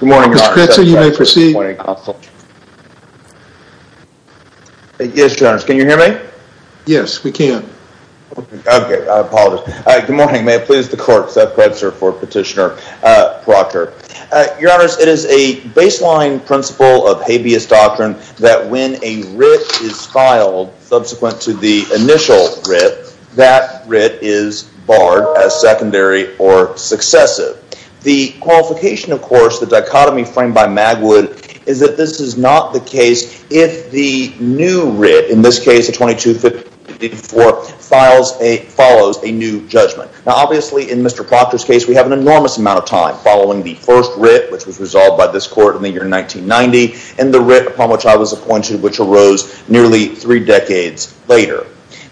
Good morning, Your Honor. Seth Kretzer. You may proceed. Yes, Your Honor. Can you hear me? Yes, we can. Okay, I apologize. Good morning. May I please the court, Seth Kretzer for Petitioner Proctor. Your Honor, it is a baseline principle of habeas doctrine that when a writ is filed subsequent to the initial writ, that writ is barred as secondary or successive. The qualification, of course, the dichotomy framed by Magwood, is that this is not the case if the new writ, in this case 2254, follows a new judgment. Now, obviously, in Mr. Proctor's case, we have an enormous amount of time following the first writ, which was resolved by this court in the year 1990, and the writ upon which I was appointed, which arose nearly three decades later.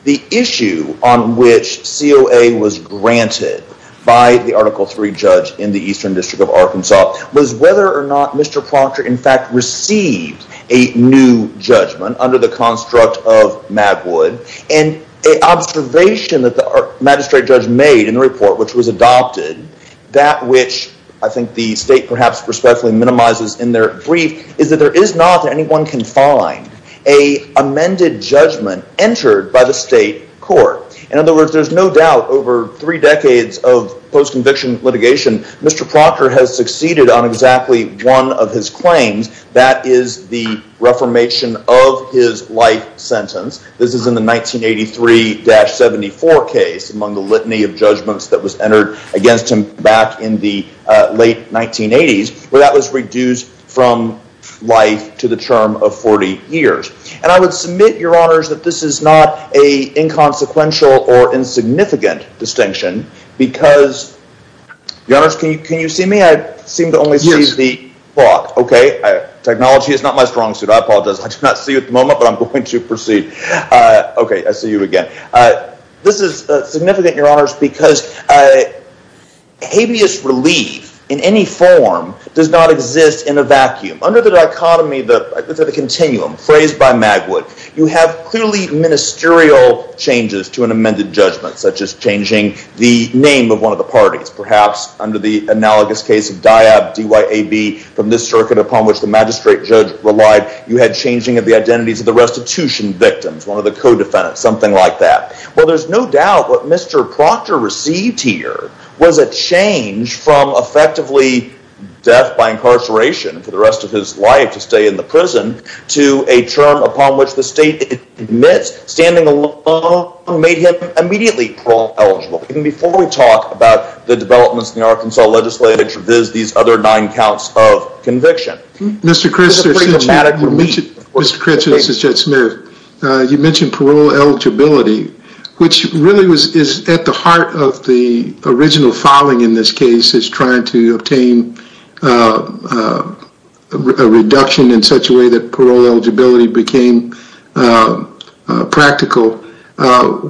The issue on which COA was granted by the Article III judge in the Eastern District of Arkansas, was whether or not Mr. Proctor, in fact, received a new judgment under the construct of Magwood. An observation that the magistrate judge made in the report, which was adopted, that which I think the state, perhaps, respectfully minimizes in their brief, is that there is not, that anyone can find, a amended judgment entered by the state court. In other words, there's no doubt, over three decades of post-conviction litigation, Mr. Proctor has succeeded on exactly one of his claims. That is the reformation of his life sentence. This is in the 1983-74 case, among the litany of judgments that was entered against him back in the late 1980s, where that was reduced from life to the term of 40 years. And I would submit, Your Honors, that this is not an inconsequential or insignificant distinction, because, Your Honors, can you see me? I seem to only see the clock. Technology is not my strong suit. I apologize. I do not see you at the moment, but I'm going to proceed. Okay, I see you again. This is significant, Your Honors, because habeas relief, in any form, does not exist in a vacuum. Under the dichotomy, the continuum, phrased by Magwood, you have clearly ministerial changes to an amended judgment, such as changing the name of one of the parties. Perhaps, under the analogous case of Dyab, D-Y-A-B, from this circuit upon which the magistrate judge relied, you had changing of the identities of the restitution victims, one of the co-defendants, something like that. Well, there's no doubt what Mr. Proctor received here was a change from effectively death by incarceration for the rest of his life to stay in the prison to a term upon which the state admits standing alone made him immediately parole-eligible. Even before we talk about the developments in the Arkansas legislature, there's these other nine counts of conviction. Mr. Critchin, this is Judge Smith. You mentioned parole eligibility, which really is at the heart of the original filing in this case, is trying to obtain a reduction in such a way that parole eligibility became practical.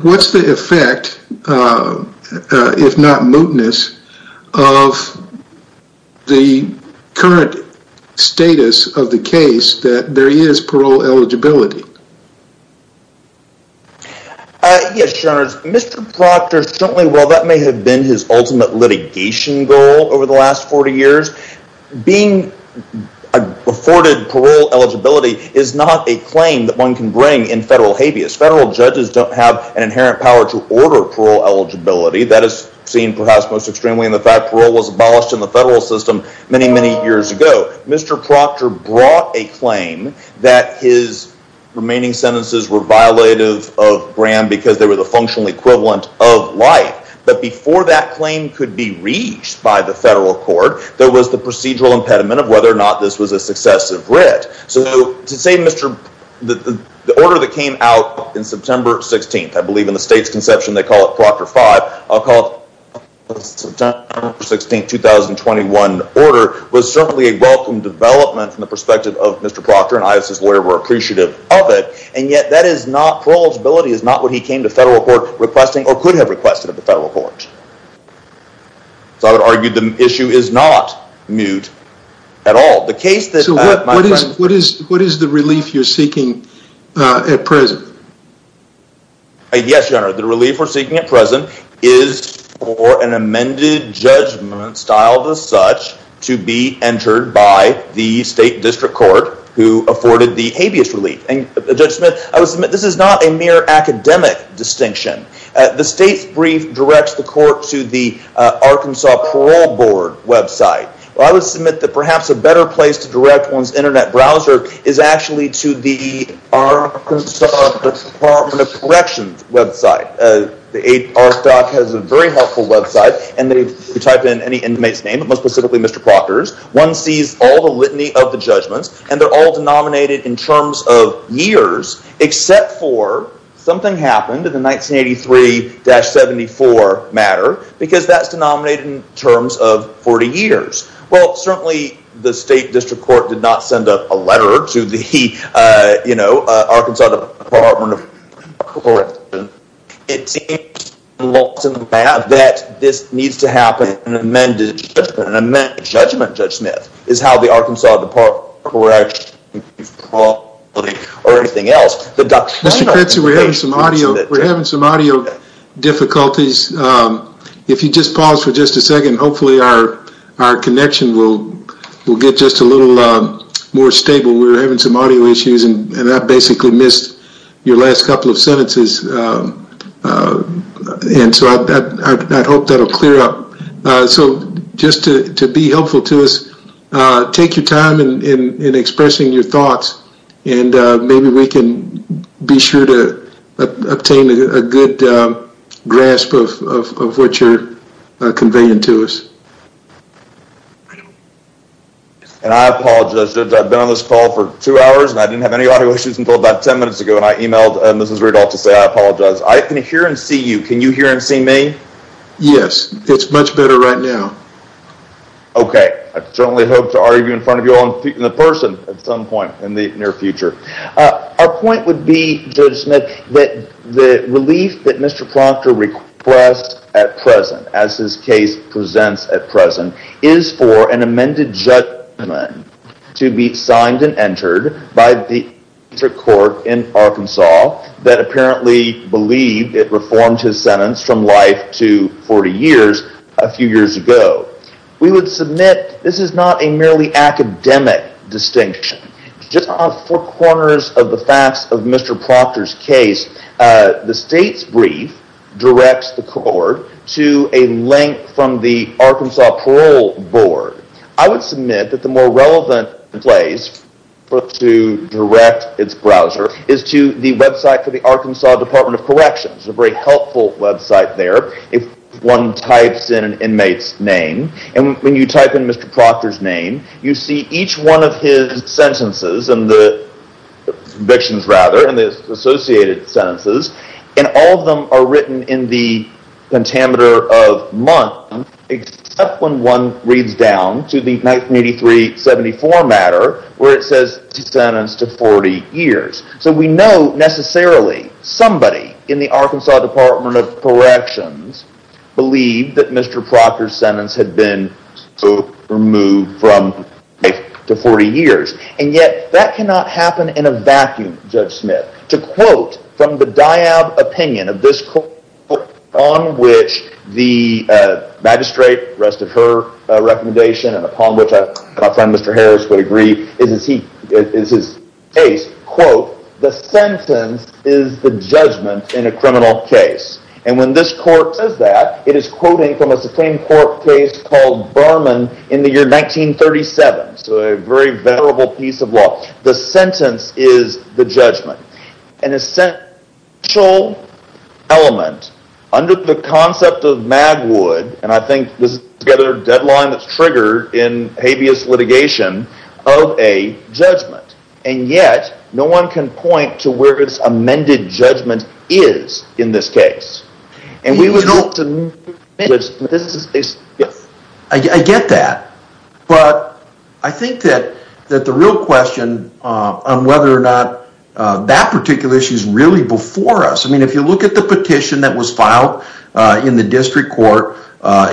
What's the effect, if not mootness, of the current status of the case that there is parole eligibility? Yes, Your Honors. Mr. Proctor, certainly while that may have been his ultimate litigation goal over the last 40 years, being afforded parole eligibility is not a claim that one can bring in federal habeas. Federal judges don't have an inherent power to order parole eligibility. That is seen perhaps most extremely in the fact that parole was abolished in the federal system many, many years ago. Mr. Proctor brought a claim that his remaining sentences were violative of Graham because they were the functional equivalent of life. But before that claim could be reached by the federal court, there was the procedural impediment of whether or not this was a successive writ. So to say the order that came out in September 16th, I believe in the state's conception they call it Proctor 5, I'll call it September 16th, 2021 order, was certainly a welcome development from the perspective of Mr. Proctor and I as his lawyer were appreciative of it. And yet parole eligibility is not what he came to federal court requesting or could have requested of the federal court. So I would argue the issue is not moot at all. So what is the relief you're seeking at present? Yes, your honor, the relief we're seeking at present is for an amended judgment styled as such to be entered by the state district court who afforded the habeas relief. And Judge Smith, I would submit this is not a mere academic distinction. The state's brief directs the court to the Arkansas Parole Board website. I would submit that perhaps a better place to direct one's internet browser is actually to the Arkansas Department of Corrections website. The ARC doc has a very helpful website and they type in any inmate's name, but most specifically Mr. Proctor's. One sees all the litany of the judgments and they're all denominated in terms of years except for something happened in the 1983-74 matter because that's denominated in terms of 40 years. Well, certainly the state district court did not send up a letter to the, you know, Arkansas Department of Corrections. It seems that this needs to happen in an amended judgment. An amended judgment, Judge Smith, is how the Arkansas Department of Corrections or anything else. Mr. Kritzer, we're having some audio difficulties. If you just pause for just a second, hopefully our connection will get just a little more stable. We're having some audio issues and I basically missed your last couple of sentences. And so I hope that will clear up. So just to be helpful to us, take your time in expressing your thoughts and maybe we can be sure to obtain a good grasp of what you're conveying to us. And I apologize, Judge. I've been on this call for two hours and I didn't have any audio issues until about 10 minutes ago and I emailed Mrs. Riedel to say I apologize. I can hear and see you. Can you hear and see me? Yes, it's much better right now. Okay, I certainly hope to argue in front of you all in person at some point in the near future. Our point would be, Judge Smith, that the relief that Mr. Proctor requests at present, as his case presents at present, is for an amended judgment to be signed and entered by the court in Arkansas that apparently believed it reformed his sentence from life to 40 years a few years ago. We would submit this is not a merely academic distinction. Just on four corners of the facts of Mr. Proctor's case, the state's brief directs the court to a link from the Arkansas Parole Board. I would submit that the more relevant place to direct its browser is to the website for the Arkansas Department of Corrections, a very helpful website there if one types in an inmate's name. When you type in Mr. Proctor's name, you see each one of his sentences, convictions rather, and the associated sentences, and all of them are written in the pentameter of month except when one reads down to the 1983-74 matter where it says sentenced to 40 years. So we know necessarily somebody in the Arkansas Department of Corrections believed that Mr. Proctor's sentence had been removed from life to 40 years, and yet that cannot happen in a vacuum, Judge Smith. To quote from the Diab opinion of this court, on which the magistrate rested her recommendation, and upon which my friend Mr. Harris would agree, is his case, quote, the sentence is the judgment in a criminal case. And when this court says that, it is quoting from a Supreme Court case called Berman in the year 1937. So a very venerable piece of law. The sentence is the judgment. An essential element under the concept of Magwood, and I think this is a deadline that's triggered in habeas litigation, of a judgment. And yet, no one can point to where this amended judgment is in this case. And we would hope to move this case. I get that. But I think that the real question on whether or not that particular issue is really before us. I mean, if you look at the petition that was filed in the district court,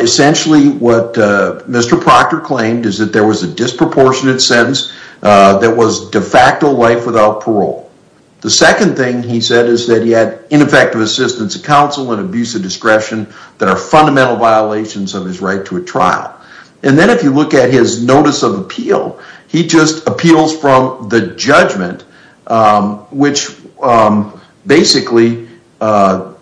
essentially what Mr. Proctor claimed is that there was a disproportionate sentence that was de facto life without parole. The second thing he said is that he had ineffective assistance of counsel and abusive discretion that are fundamental violations of his right to a trial. And then if you look at his notice of appeal, he just appeals from the judgment, which basically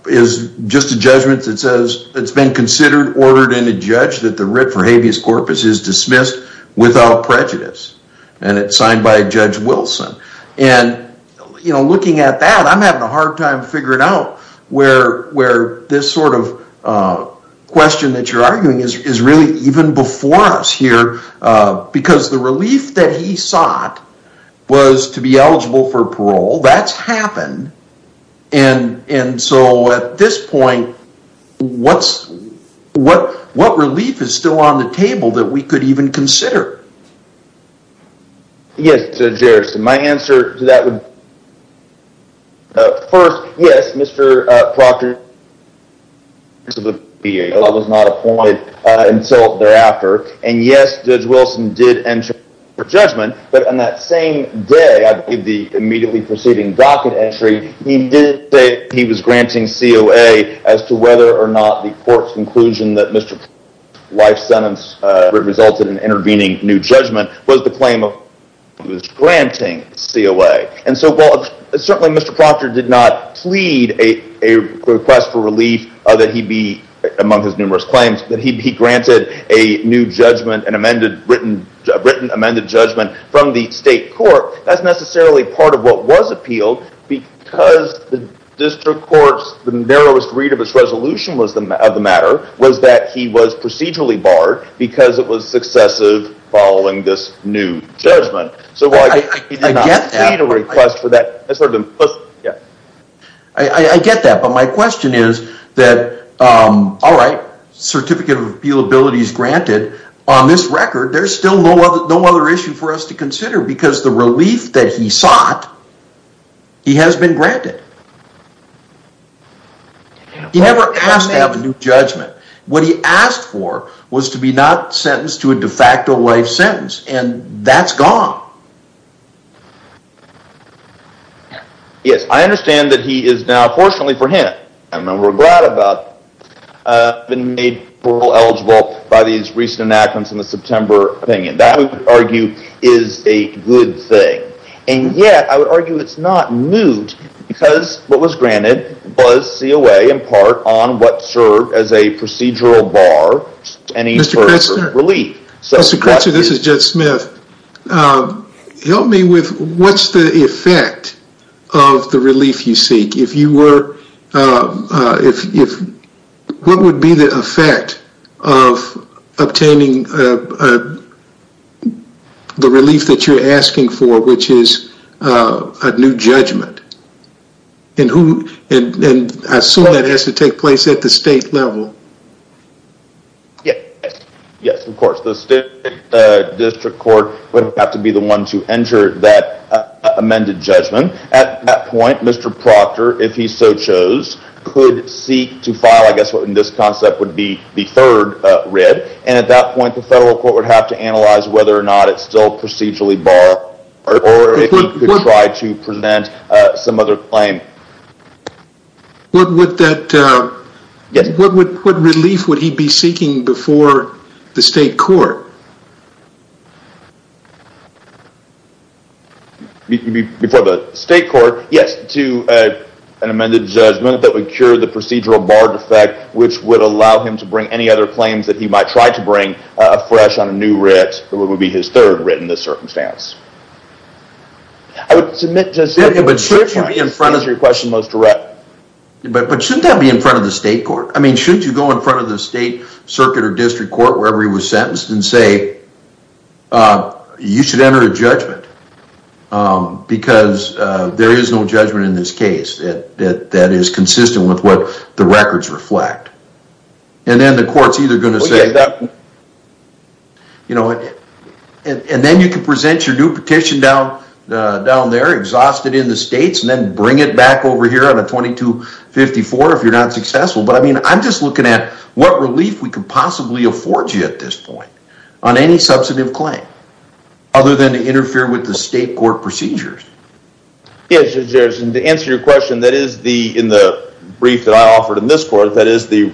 is just a judgment that says it's been considered ordered in a judge that the writ for habeas corpus is dismissed without prejudice. And it's signed by Judge Wilson. And, you know, looking at that, I'm having a hard time figuring out where this sort of question that you're arguing is really even before us here, because the relief that he sought was to be eligible for parole. That's happened. And so at this point, what relief is still on the table that we could even consider? Yes, Judge Harrison, my answer to that would be, first, yes, Mr. Proctor was not appointed until thereafter. And yes, Judge Wilson did enter for judgment. But on that same day, I believe the immediately preceding docket entry, he did say he was granting COA as to whether or not the court's conclusion that Mr. Proctor's life sentence resulted in intervening new judgment was the claim of granting COA. And so certainly Mr. Proctor did not plead a request for relief that he be among his numerous claims, that he be granted a new judgment, a written amended judgment from the state court. That's necessarily part of what was appealed, because the district court's narrowest read of its resolution of the matter was that he was procedurally barred because it was successive following this new judgment. So while he did not plead a request for that, that's sort of implicit. I get that. But my question is that, all right, certificate of appealability is granted. On this record, there's still no other issue for us to consider because the relief that he sought, he has been granted. He never asked to have a new judgment. What he asked for was to be not sentenced to a de facto life sentence, and that's gone. Yes. I understand that he is now, fortunately for him, and we're glad about, been made eligible by these recent enactments in the September opinion. That, we would argue, is a good thing. And yet, I would argue it's not moot because what was granted was COA in part on what served as a procedural bar to any sort of relief. Mr. Crutzer, this is Jed Smith. Help me with what's the effect of the relief you seek. If you were, if, what would be the effect of obtaining the relief that you're asking for, which is a new judgment? And who, and I assume that has to take place at the state level. Yes. Yes, of course. The state district court would have to be the one to enter that amended judgment. At that point, Mr. Proctor, if he so chose, could seek to file, I guess in this concept, would be the third writ. And at that point, the federal court would have to analyze whether or not it's still procedurally barred or if he could try to present some other claim. What would that, what relief would he be seeking before the state court? Before the state court, yes, to an amended judgment that would cure the procedural barred effect, which would allow him to bring any other claims that he might try to bring afresh on a new writ that would be his third writ in this circumstance. I would submit to... But shouldn't that be in front of the state court? I mean, shouldn't you go in front of the state circuit or district court, wherever he was sentenced, and say, you should enter a judgment because there is no judgment in this case that is consistent with what the records reflect. And then the court's either going to say... And then you can present your new petition down there, exhaust it in the states, and then bring it back over here on a 2254 if you're not successful. But I mean, I'm just looking at what relief we could possibly afford you at this point on any substantive claim, other than to interfere with the state court procedures. Yes, Judge Harrison, to answer your question, that is the, in the brief that I offered in this court, that is the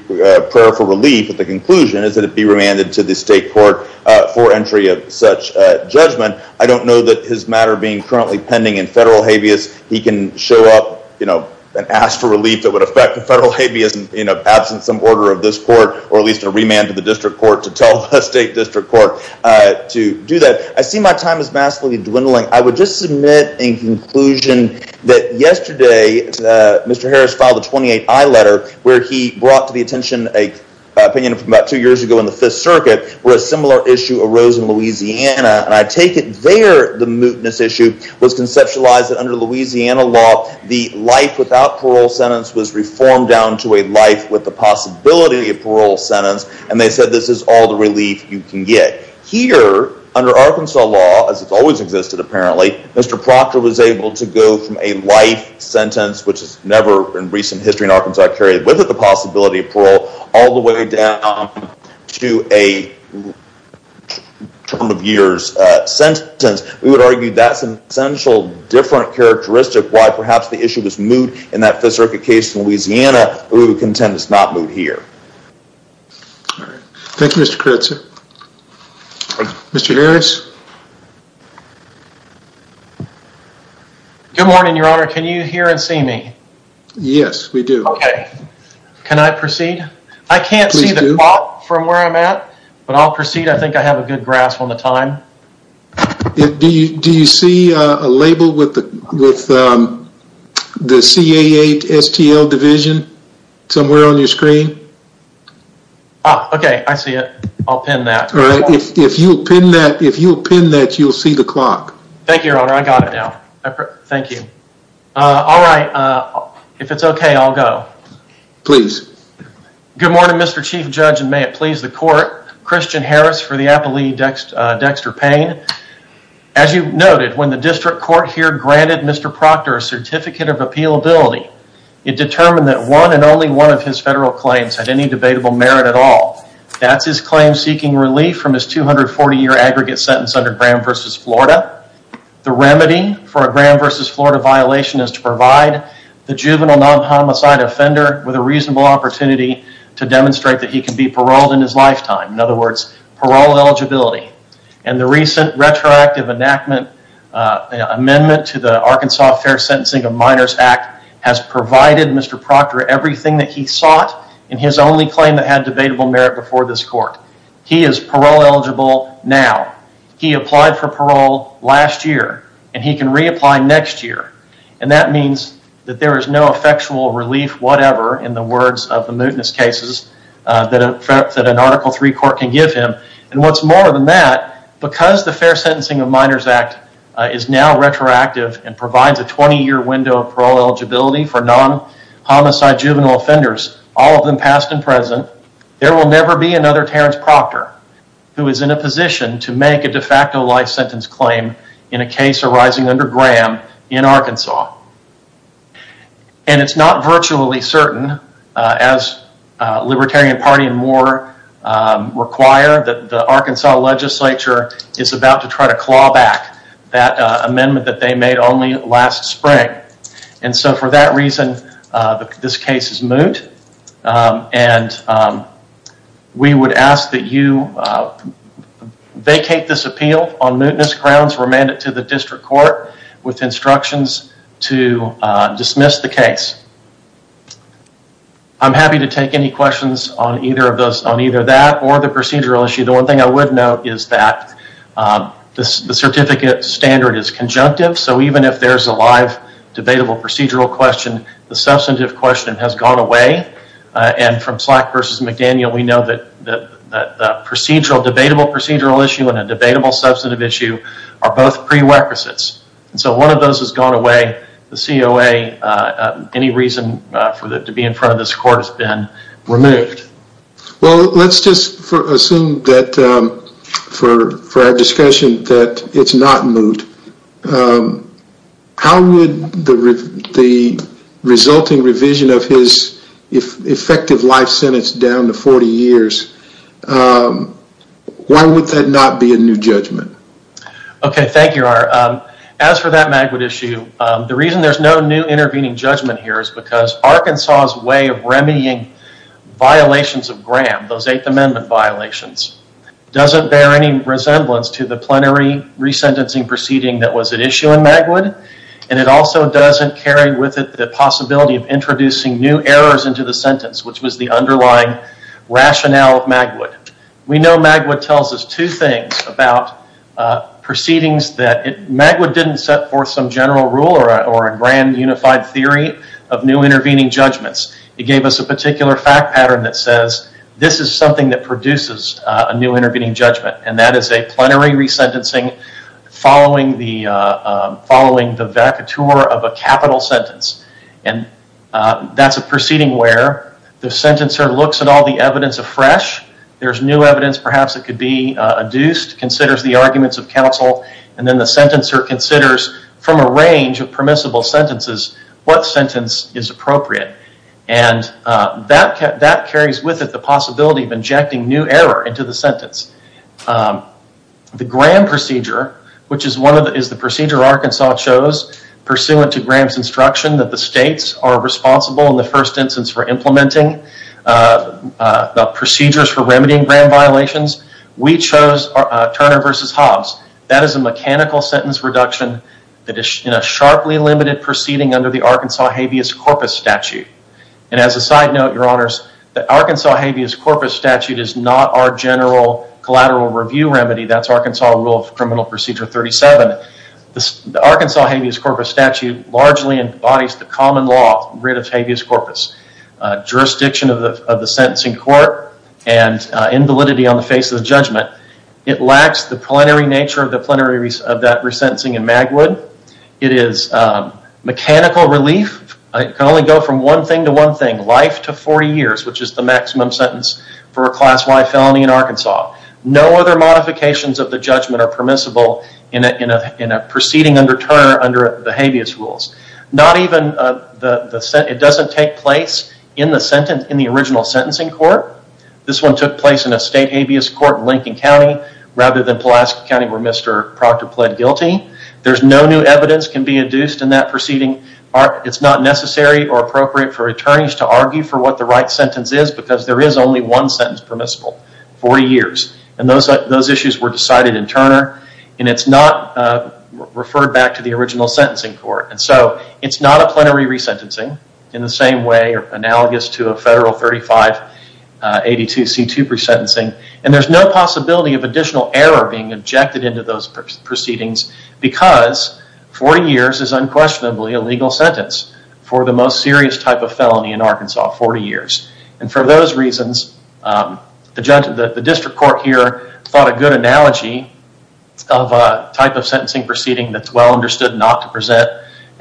prayer for relief, but the conclusion is that it be remanded to the state court for entry of such judgment. I don't know that his matter being currently pending in federal habeas, he can show up, you know, and ask for relief that would affect the federal habeas in absence of some order of this court, or at least a remand to the district court to tell the state district court to do that. I see my time is massively dwindling. I would just submit in conclusion that yesterday, Mr. Harris filed a 28I letter where he brought to the attention an opinion from about two years ago in the Fifth Circuit where a similar issue arose in Louisiana, and I take it there the mootness issue was conceptualized that under Louisiana law, the life without parole sentence was reformed down to a life with the possibility of parole sentence, and they said this is all the relief you can get. Here, under Arkansas law, as it's always existed apparently, Mr. Proctor was able to go from a life sentence, which is never in recent history in Arkansas carried with it the possibility of parole, all the way down to a term of years sentence. We would argue that's an essential different characteristic why perhaps the issue was moot in that Fifth Circuit case in Louisiana, but we would contend it's not moot here. All right. Thank you, Mr. Koretsu. Mr. Harris? Good morning, Your Honor. Can you hear and see me? Yes, we do. Okay. Can I proceed? Please do. I can't see the clock from where I'm at, but I'll proceed. I think I have a good grasp on the time. Do you see a label with the CAA STL division somewhere on your screen? Okay. I see it. I'll pin that. All right. If you'll pin that, you'll see the clock. Thank you, Your Honor. I got it now. Thank you. All right. If it's okay, I'll go. Please. Good morning, Mr. Chief Judge, and may it please the court. Christian Harris for the Appalachian Dexter Payne. As you noted, when the district court here granted Mr. Proctor a certificate of appealability, it determined that one and only one of his federal claims had any debatable merit at all. That's his claim seeking relief from his 240-year aggregate sentence under Graham v. Florida. The remedy for a Graham v. Florida violation is to provide the juvenile non-homicide offender with a reasonable opportunity to demonstrate that he can be paroled in his lifetime. In other words, parole eligibility. And the recent retroactive amendment to the Arkansas Fair Sentencing of Minors Act has provided Mr. Proctor everything that he sought in his only claim that had debatable merit before this court. He is parole eligible now. He applied for parole last year, and he can reapply next year. And that means that there is no effectual relief whatever in the words of the mootness cases that an Article III court can give him. And what's more than that, because the Fair Sentencing of Minors Act is now retroactive and provides a 20-year window of parole eligibility for non-homicide juvenile offenders, all of them past and present, there will never be another Terrence Proctor who is in a position to make a de facto life sentence claim in a case arising under Graham in Arkansas. And it's not virtually certain, as Libertarian Party and more require, that the Arkansas legislature is about to try to claw back that amendment that they made only last spring. And so for that reason, this case is moot, and we would ask that you vacate this appeal on mootness grounds, remand it to the district court with instructions to dismiss the case. I'm happy to take any questions on either that or the procedural issue. The one thing I would note is that the certificate standard is conjunctive, so even if there's a live debatable procedural question, the substantive question has gone away. And from Slack versus McDaniel, we know that a debatable procedural issue and a debatable substantive issue are both prerequisites. And so one of those has gone away. The COA, any reason to be in front of this court has been removed. Well, let's just assume that for our discussion that it's not moot. How would the resulting revision of his effective life sentence down to 40 years, why would that not be a new judgment? Okay, thank you, Art. As for that Magwood issue, the reason there's no new intervening judgment here is because Arkansas' way of remedying violations of Graham, those Eighth Amendment violations, doesn't bear any resemblance to the plenary resentencing proceeding that was at issue in Magwood. And it also doesn't carry with it the possibility of introducing new errors into the sentence, which was the underlying rationale of Magwood. We know Magwood tells us two things about proceedings that... Magwood didn't set forth some general rule or a grand unified theory of new intervening judgments. It gave us a particular fact pattern that says, this is something that produces a new intervening judgment, and that is a plenary resentencing following the vacatur of a capital sentence. And that's a proceeding where the sentencer looks at all the evidence afresh, there's new evidence perhaps that could be adduced, considers the arguments of counsel, and then the sentencer considers from a range of permissible sentences what sentence is appropriate. And that carries with it the possibility of injecting new error into the sentence. The Graham procedure, which is the procedure Arkansas chose pursuant to Graham's instruction that the states are responsible in the first instance for implementing the procedures for remedying Graham violations, we chose Turner v. Hobbs. That is a mechanical sentence reduction that is in a sharply limited proceeding under the Arkansas habeas corpus statute. And as a side note, your honors, the Arkansas habeas corpus statute is not our general collateral review remedy. That's Arkansas rule of criminal procedure 37. The Arkansas habeas corpus statute largely embodies the common law of rid of habeas corpus. Jurisdiction of the sentencing court and invalidity on the face of the judgment. It lacks the plenary nature of that resentencing in Magwood. It is mechanical relief. It can only go from one thing to one thing, life to 40 years, which is the maximum sentence for a class Y felony in Arkansas. No other modifications of the judgment are permissible in a proceeding under Turner under the habeas rules. Not even, it doesn't take place in the original sentencing court. This one took place in a state habeas court in Lincoln County, rather than Pulaski County where Mr. Proctor pled guilty. There's no new evidence can be induced in that proceeding. It's not necessary or appropriate for attorneys to argue for what the right sentence is because there is only one sentence permissible, 40 years. Those issues were decided in Turner. It's not referred back to the original sentencing court. It's not a plenary resentencing in the same way or analogous to a federal 3582C2 resentencing. There's no possibility of additional error being injected into those proceedings because 40 years is unquestionably a legal sentence for the most serious type of felony in Arkansas, 40 years. For those reasons, the district court here thought a good analogy of a type of sentencing proceeding that's well understood not to present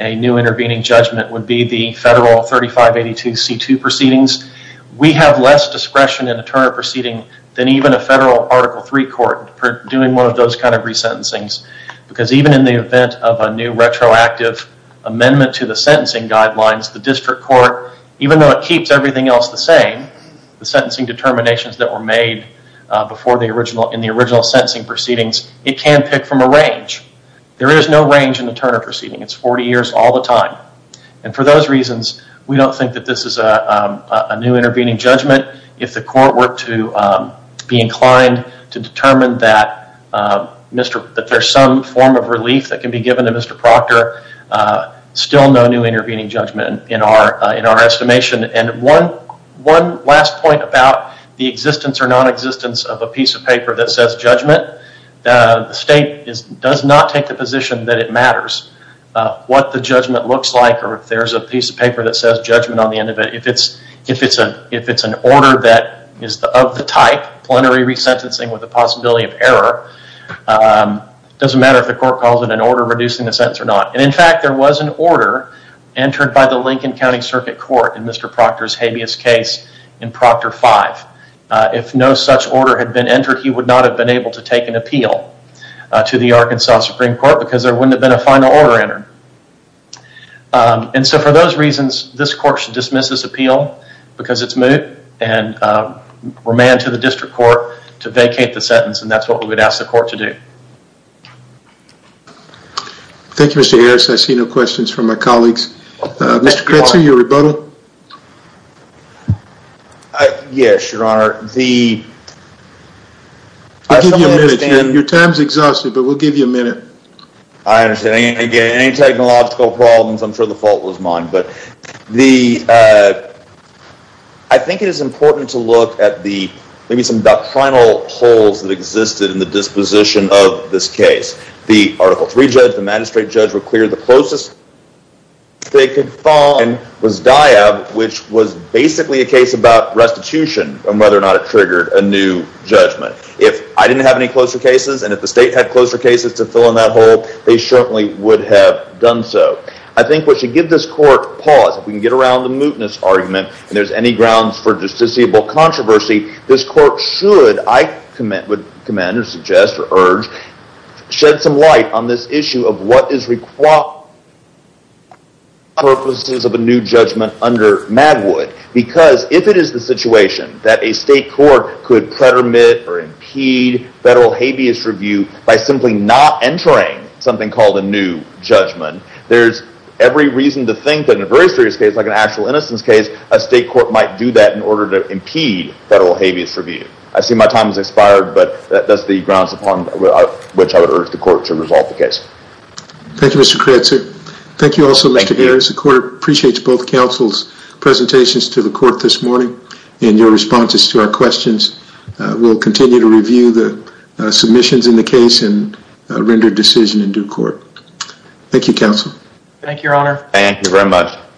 a new intervening judgment would be the federal 3582C2 proceedings. We have less discretion in a Turner proceeding than even a federal Article III court for doing one of those kind of resentencings because even in the event of a new retroactive amendment to the sentencing guidelines, the district court, even though it keeps everything else the same, the sentencing determinations that were made in the original sentencing proceedings, it can pick from a range. There is no range in a Turner proceeding. It's 40 years all the time. For those reasons, we don't think that this is a new intervening judgment if the court were to be inclined to determine that there's some form of relief that can be given to Mr. Proctor still no new intervening judgment in our estimation. One last point about the existence or non-existence of a piece of paper that says judgment, the state does not take the position that it matters what the judgment looks like or if there's a piece of paper that says judgment on the end of it. If it's an order that is of the type, plenary resentencing with the possibility of error, it doesn't matter if the court calls it an order reducing the sentence or not. In fact, there was an order entered by the Lincoln County Circuit Court in Mr. Proctor's habeas case in Proctor 5. If no such order had been entered, he would not have been able to take an appeal to the Arkansas Supreme Court because there wouldn't have been a final order entered. For those reasons, this court should dismiss this appeal because it's moot and remand to the district court to vacate the sentence and that's what we would ask the court to do. Thank you, Mr. Harris. I see no questions from my colleagues. Mr. Kretzer, your rebuttal? Yes, Your Honor. We'll give you a minute. Your time's exhausted, but we'll give you a minute. I understand. Again, any technological problems, I'm sure the fault was mine, but I think it is important to look at maybe some doctrinal holes that existed in the disposition of this case. The Article 3 judge, the magistrate judge were clear the closest they could fall in was DIAB, which was basically a case about restitution and whether or not it triggered a new judgment. If I didn't have any closer cases and if the state had closer cases to fill in that hole, they certainly would have done so. I think we should give this court pause. If we can get around the mootness argument and there's any grounds for justiciable controversy, this court should, I would command or suggest or urge, shed some light on this issue of what is required purposes of a new judgment under Madwood because if it is the situation that a state court could pretermit or impede federal habeas review by simply not entering something called a new judgment, there's every reason to think that in a very serious case, like an actual innocence case, a state court might do that in order to impede federal habeas review. I see my time has expired, but that's the grounds upon which I would urge the court to resolve the case. Thank you, Mr. Koretsu. Thank you also, Mr. Ayers. The court appreciates both counsel's presentations to the court this morning and your responses to our questions. We'll continue to review the submissions in the case and render decision in due court. Thank you, counsel. Thank you, your honor. Thank you very much.